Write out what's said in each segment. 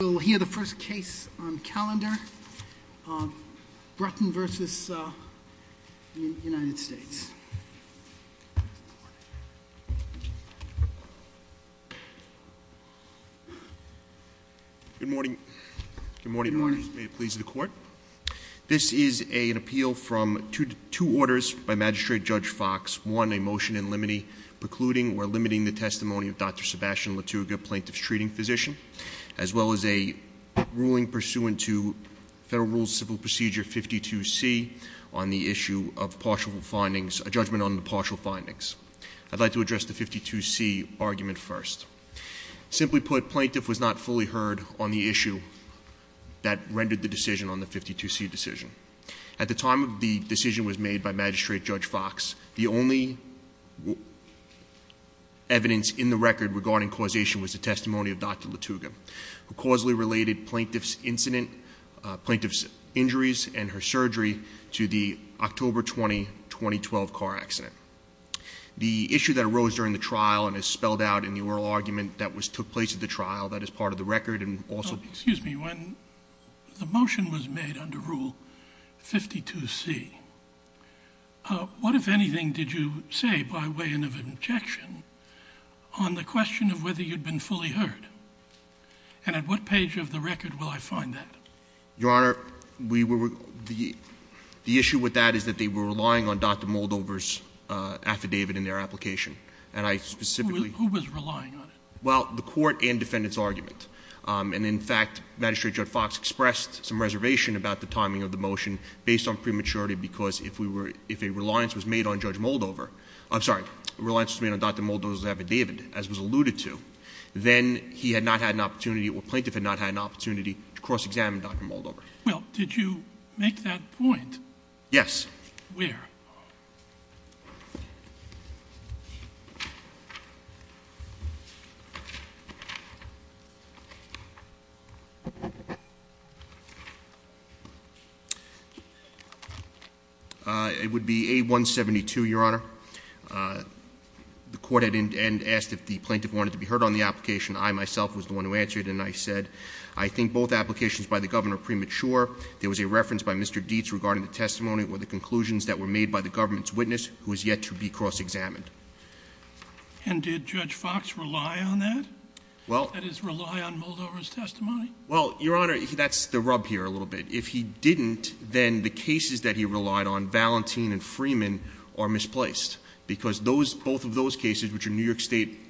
We'll hear the first case on calendar, Brutton v. United States. Good morning. Good morning. Good morning. May it please the court. This is an appeal from two orders by Magistrate Judge Fox. One, a motion in limine precluding or limiting the testimony of Dr. Sebastian Latuga, a plaintiff's treating physician, as well as a ruling pursuant to Federal Rules Civil Procedure 52C on the issue of partial findings, a judgment on the partial findings. I'd like to address the 52C argument first. Simply put, plaintiff was not fully heard on the issue that rendered the decision on the 52C decision. At the time the decision was made by Magistrate Judge Fox, the only evidence in the record regarding causation was the testimony of Dr. Latuga, who causally related plaintiff's injuries and her surgery to the October 20, 2012 car accident. The issue that arose during the trial and is spelled out in the oral argument that took place at the trial, that is part of the record and also- Excuse me, when the motion was made under Rule 52C, what, if anything, did you say by way of an objection on the question of whether you'd been fully heard? And at what page of the record will I find that? Your Honor, the issue with that is that they were relying on Dr. Moldover's affidavit in their application. And I specifically- Who was relying on it? Well, the court and defendant's argument. And in fact, Magistrate Judge Fox expressed some reservation about the timing of the motion based on prematurity. Because if a reliance was made on Judge Moldover, I'm sorry, a reliance was made on Dr. Moldover's affidavit, as was alluded to. Then he had not had an opportunity, or plaintiff had not had an opportunity to cross-examine Dr. Moldover. Well, did you make that point? Yes. Where? It would be A172, Your Honor. The court had asked if the plaintiff wanted to be heard on the application. I myself was the one who answered, and I said, I think both applications by the governor are premature. There was a reference by Mr. Dietz regarding the testimony or the conclusions that were made by the government's witness, who is yet to be cross-examined. And did Judge Fox rely on that? That is, rely on Moldover's testimony? Well, Your Honor, that's the rub here a little bit. If he didn't, then the cases that he relied on, Valentin and Freeman, are misplaced. Because both of those cases, which are New York State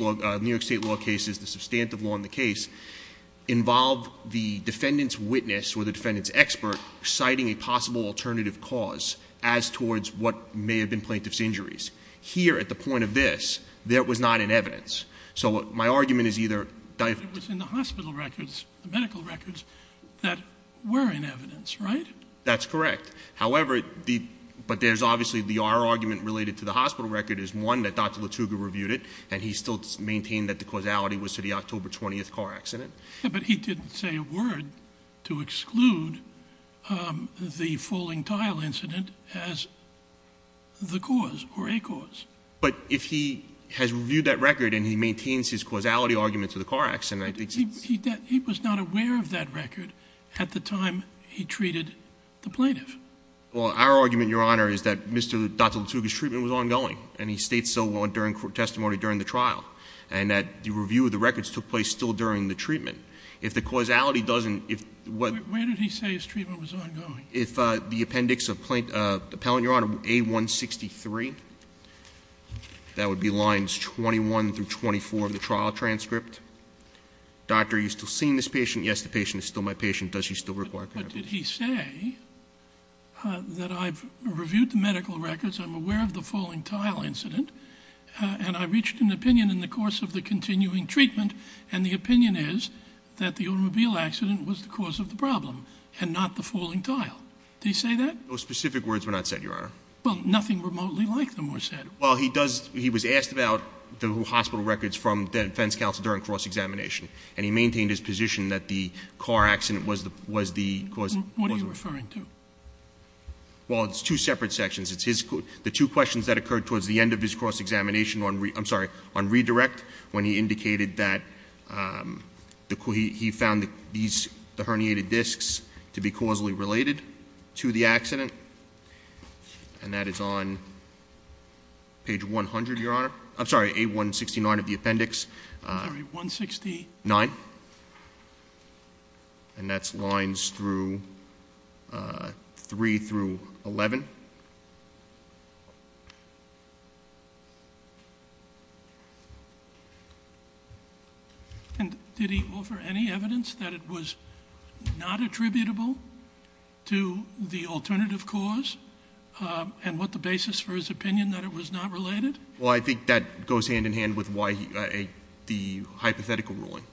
law cases, the substantive law in the case, involve the defendant's witness or the defendant's expert citing a possible alternative cause as towards what may have been plaintiff's injuries. Here, at the point of this, there was not an evidence. So my argument is either- But it was in the hospital records, the medical records, that were in evidence, right? That's correct. However, but there's obviously the argument related to the hospital record is one that Dr. Letuga reviewed it, and he still maintained that the causality was to the October 20th car accident. But he didn't say a word to exclude the falling tile incident as the cause or a cause. But if he has reviewed that record and he maintains his causality argument to the car accident, I think it's- He was not aware of that record at the time he treated the plaintiff. Well, our argument, Your Honor, is that Dr. Letuga's treatment was ongoing. And he states so during court testimony during the trial. And that the review of the records took place still during the treatment. If the causality doesn't, if what- Where did he say his treatment was ongoing? If the appendix of the appellant, Your Honor, A163. That would be lines 21 through 24 of the trial transcript. Doctor, are you still seeing this patient? Yes, the patient is still my patient. Does she still require- But did he say that I've reviewed the medical records, I'm aware of the falling tile incident. And I reached an opinion in the course of the continuing treatment. And the opinion is that the automobile accident was the cause of the problem and not the falling tile. Did he say that? No specific words were not said, Your Honor. Well, nothing remotely like them were said. Well, he was asked about the hospital records from the defense counsel during cross-examination. And he maintained his position that the car accident was the cause- What are you referring to? Well, it's two separate sections. It's the two questions that occurred towards the end of his cross-examination on, I'm sorry, on redirect, when he indicated that he found these herniated discs to be causally related to the accident. And that is on page 100, Your Honor. I'm sorry, A169 of the appendix. I'm sorry, 16- Nine. And that's lines three through 11. And did he offer any evidence that it was not attributable to the alternative cause and what the basis for his opinion that it was not related? Well, I think that goes hand in hand with the hypothetical ruling.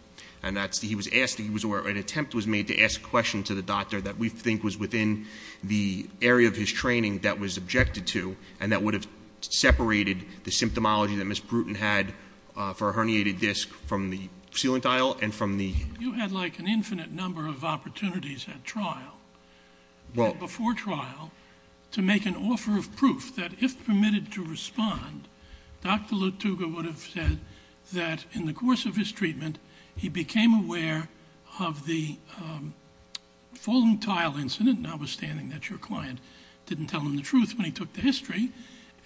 And he was asked, or an attempt was made to ask a question to the doctor that we think was within the area of his training that was objected to and that would have separated the symptomology that Ms. Bruton had for a herniated disc from the ceiling tile and from the- You had like an infinite number of opportunities at trial. Well- Before trial, to make an offer of proof that if permitted to respond, Dr. Luttuga would have said that in the course of his treatment he became aware of the falling tile incident, notwithstanding that your client didn't tell him the truth when he took the history.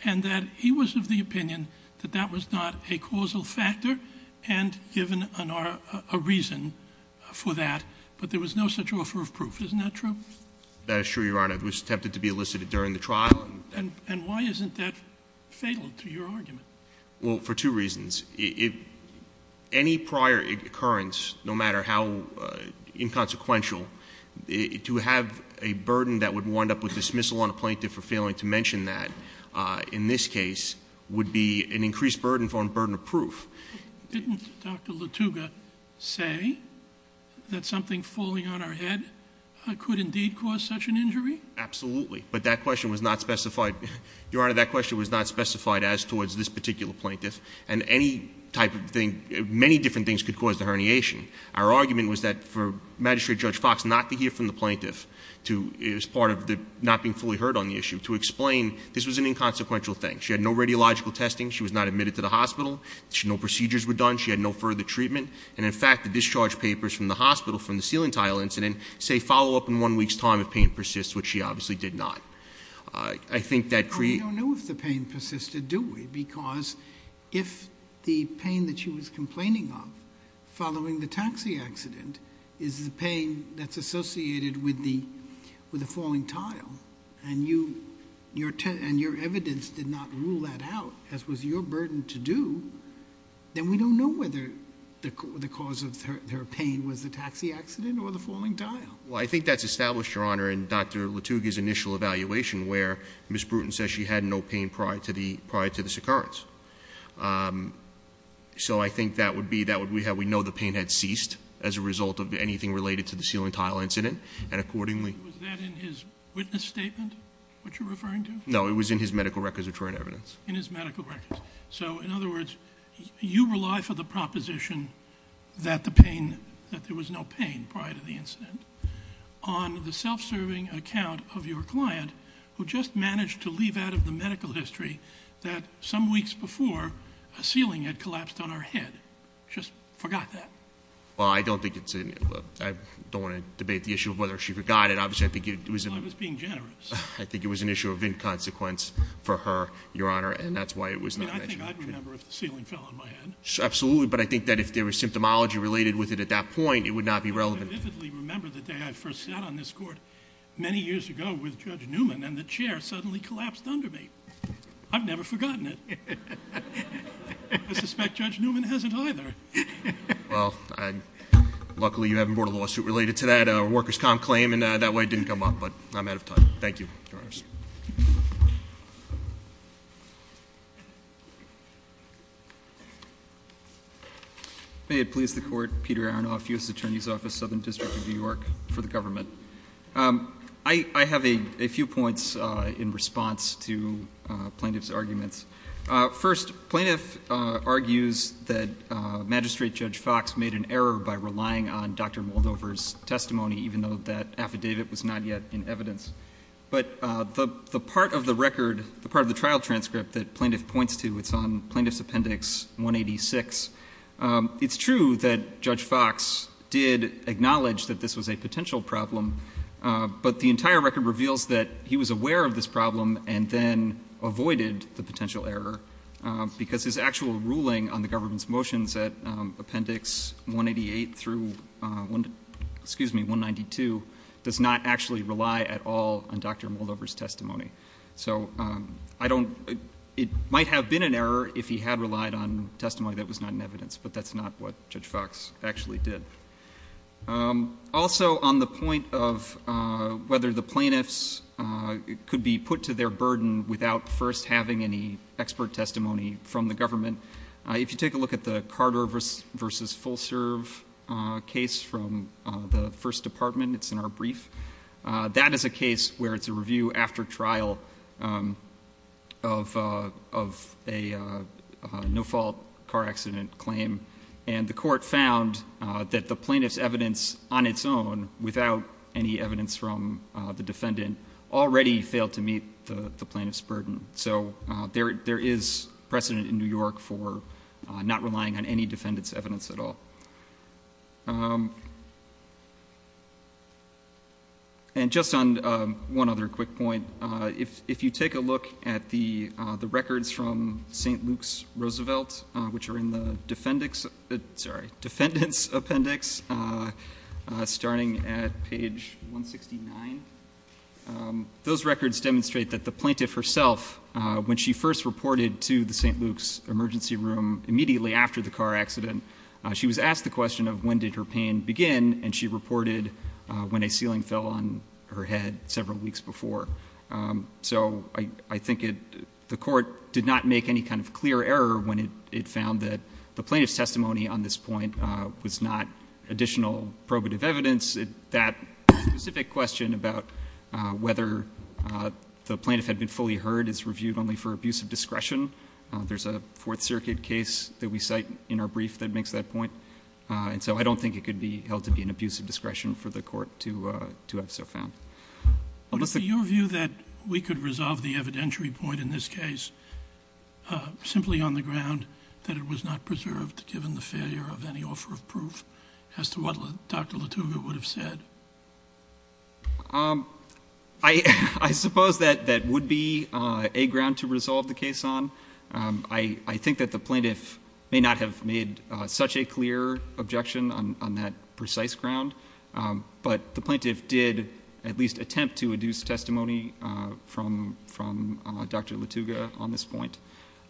And that he was of the opinion that that was not a causal factor and given a reason for that. But there was no such offer of proof. Isn't that true? That is true, Your Honor. It was attempted to be elicited during the trial. And why isn't that fatal to your argument? Well, for two reasons. Any prior occurrence, no matter how inconsequential, to have a burden that would wind up with dismissal on a plaintiff for failing to mention that, in this case, would be an increased burden on burden of proof. Didn't Dr. Luttuga say that something falling on our head could indeed cause such an injury? Absolutely. But that question was not specified. Your Honor, that question was not specified as towards this particular plaintiff. And any type of thing, many different things could cause the herniation. Our argument was that for Magistrate Judge Fox not to hear from the plaintiff as part of not being fully heard on the issue. To explain, this was an inconsequential thing. She had no radiological testing. She was not admitted to the hospital. No procedures were done. She had no further treatment. And in fact, the discharge papers from the hospital, from the sealant tile incident, say follow up in one week's time if pain persists, which she obviously did not. I think that- We don't know if the pain persisted, do we? Because if the pain that she was complaining of following the taxi accident is the pain that's associated with the falling tile. And your evidence did not rule that out, as was your burden to do, then we don't know whether the cause of her pain was the taxi accident or the falling tile. Well, I think that's established, Your Honor, in Dr. Latuge's initial evaluation, where Ms. Bruton says she had no pain prior to this occurrence. So I think that would be, we know the pain had ceased as a result of anything related to the sealant tile incident. And accordingly- Was that in his witness statement, what you're referring to? No, it was in his medical records of current evidence. In his medical records. So in other words, you rely for the proposition that there was no pain prior to the incident on the self-serving account of your client, who just managed to leave out of the medical history that some weeks before a ceiling had collapsed on her head, just forgot that. Well, I don't think it's, I don't want to debate the issue of whether she forgot it. Obviously, I think it was- I was being generous. I think it was an issue of inconsequence for her, Your Honor, and that's why it was not mentioned. I think I'd remember if the ceiling fell on my head. Absolutely, but I think that if there was symptomology related with it at that point, it would not be relevant. I vividly remember the day I first sat on this court many years ago with Judge Newman, and the chair suddenly collapsed under me. I've never forgotten it. I suspect Judge Newman hasn't either. Well, luckily you haven't brought a lawsuit related to that, a workers' comp claim, and that way it didn't come up. But I'm out of time. Thank you, Your Honors. May it please the court, Peter Aronoff, U.S. Attorney's Office, Southern District of New York, for the government. I have a few points in response to plaintiff's arguments. First, plaintiff argues that Magistrate Judge Fox made an error by relying on Dr. David was not yet in evidence. But the part of the record, the part of the trial transcript that plaintiff points to, it's on Plaintiff's Appendix 186. It's true that Judge Fox did acknowledge that this was a potential problem. But the entire record reveals that he was aware of this problem, and then avoided the potential error. Because his actual ruling on the government's motions at Appendix 188 through, excuse me, 192, does not actually rely at all on Dr. Moldover's testimony. So it might have been an error if he had relied on testimony that was not in evidence, but that's not what Judge Fox actually did. Also on the point of whether the plaintiffs could be put to their burden without first having any expert testimony from the government. If you take a look at the Carter versus Fulserve case from the first department, it's in our brief. That is a case where it's a review after trial of a no fault car accident claim. And the court found that the plaintiff's evidence on its own, without any evidence from the defendant, already failed to meet the plaintiff's burden. So there is precedent in New York for not relying on any defendant's evidence at all. And just on one other quick point, if you take a look at the records from St. Luke's Roosevelt, which are in the defendant's appendix, starting at page 169, those records demonstrate that the plaintiff herself when she first reported to the St. Luke's emergency room immediately after the car accident, she was asked the question of when did her pain begin, and she reported when a ceiling fell on her head several weeks before. So I think the court did not make any kind of clear error when it found that the plaintiff's testimony on this point was not additional probative evidence. That specific question about whether the plaintiff had been fully heard is reviewed only for abuse of discretion. There's a Fourth Circuit case that we cite in our brief that makes that point. And so I don't think it could be held to be an abuse of discretion for the court to have so found. Let's- Do you view that we could resolve the evidentiary point in this case simply on the ground that it was not preserved given the failure of any offer of proof as to what Dr. Latuga would have said? I suppose that would be a ground to resolve the case on. I think that the plaintiff may not have made such a clear objection on that precise ground. But the plaintiff did at least attempt to induce testimony from Dr. Latuga on this point.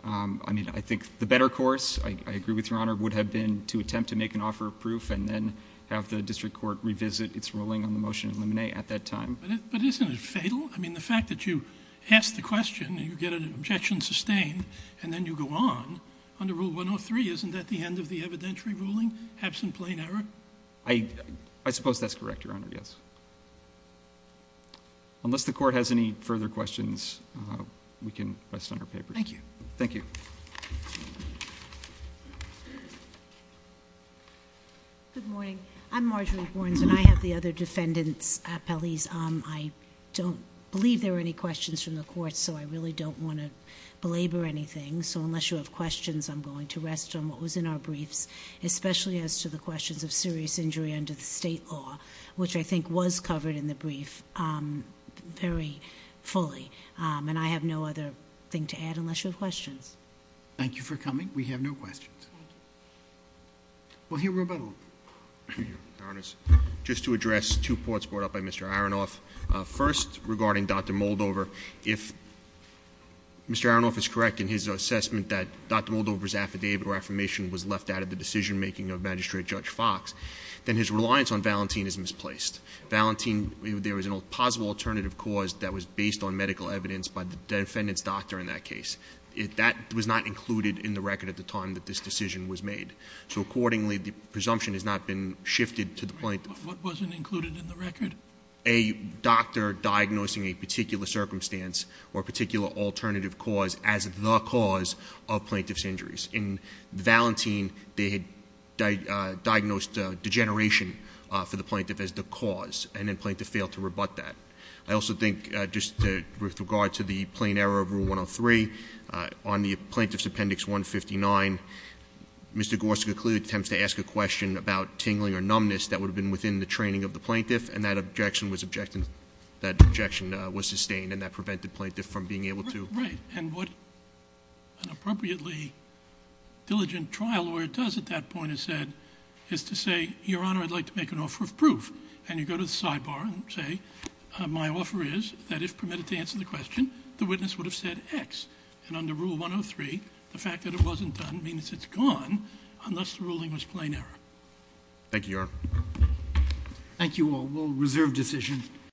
I mean, I think the better course, I agree with Your Honor, would have been to attempt to make an offer of proof and then have the district court revisit its ruling on the motion to eliminate at that time. But isn't it fatal? I mean, the fact that you ask the question and you get an objection sustained, and then you go on under Rule 103, isn't that the end of the evidentiary ruling, absent plain error? I suppose that's correct, Your Honor, yes. Unless the court has any further questions, we can rest on our papers. Thank you. Good morning. I'm Marjorie Borns, and I have the other defendants' appellees. I don't believe there are any questions from the court, so I really don't want to belabor anything. So unless you have questions, I'm going to rest on what was in our briefs, especially as to the questions of serious injury under the state law, which I think was covered in the brief very fully. And I have no other thing to add, unless you have questions. Thank you for coming. We have no questions. We'll hear Roberto. Your Honors, just to address two points brought up by Mr. Aronoff. First, regarding Dr. Moldover, if Mr. Aronoff is correct in his assessment that Dr. Moldover's affidavit or affirmation was left out of the decision making of Magistrate Judge Fox, then his reliance on Valentin is misplaced. Valentin, there was a possible alternative cause that was based on medical evidence by the defendant's doctor in that case. That was not included in the record at the time that this decision was made. So accordingly, the presumption has not been shifted to the point- What wasn't included in the record? A doctor diagnosing a particular circumstance or a particular alternative cause as the cause of plaintiff's injuries. In Valentin, they had diagnosed degeneration for the plaintiff as the cause, and then plaintiff failed to rebut that. I also think, just with regard to the plain error of rule 103, on the plaintiff's appendix 159, Mr. Gorska clearly attempts to ask a question about tingling or numbness that would have been within the training of the plaintiff. And that objection was sustained, and that prevented plaintiff from being able to- An appropriately diligent trial lawyer does at that point is to say, Your Honor, I'd like to make an offer of proof. And you go to the sidebar and say, my offer is that if permitted to answer the question, the witness would have said X. And under rule 103, the fact that it wasn't done means it's gone unless the ruling was plain error. Thank you, Your Honor. Thank you all. We'll reserve decision.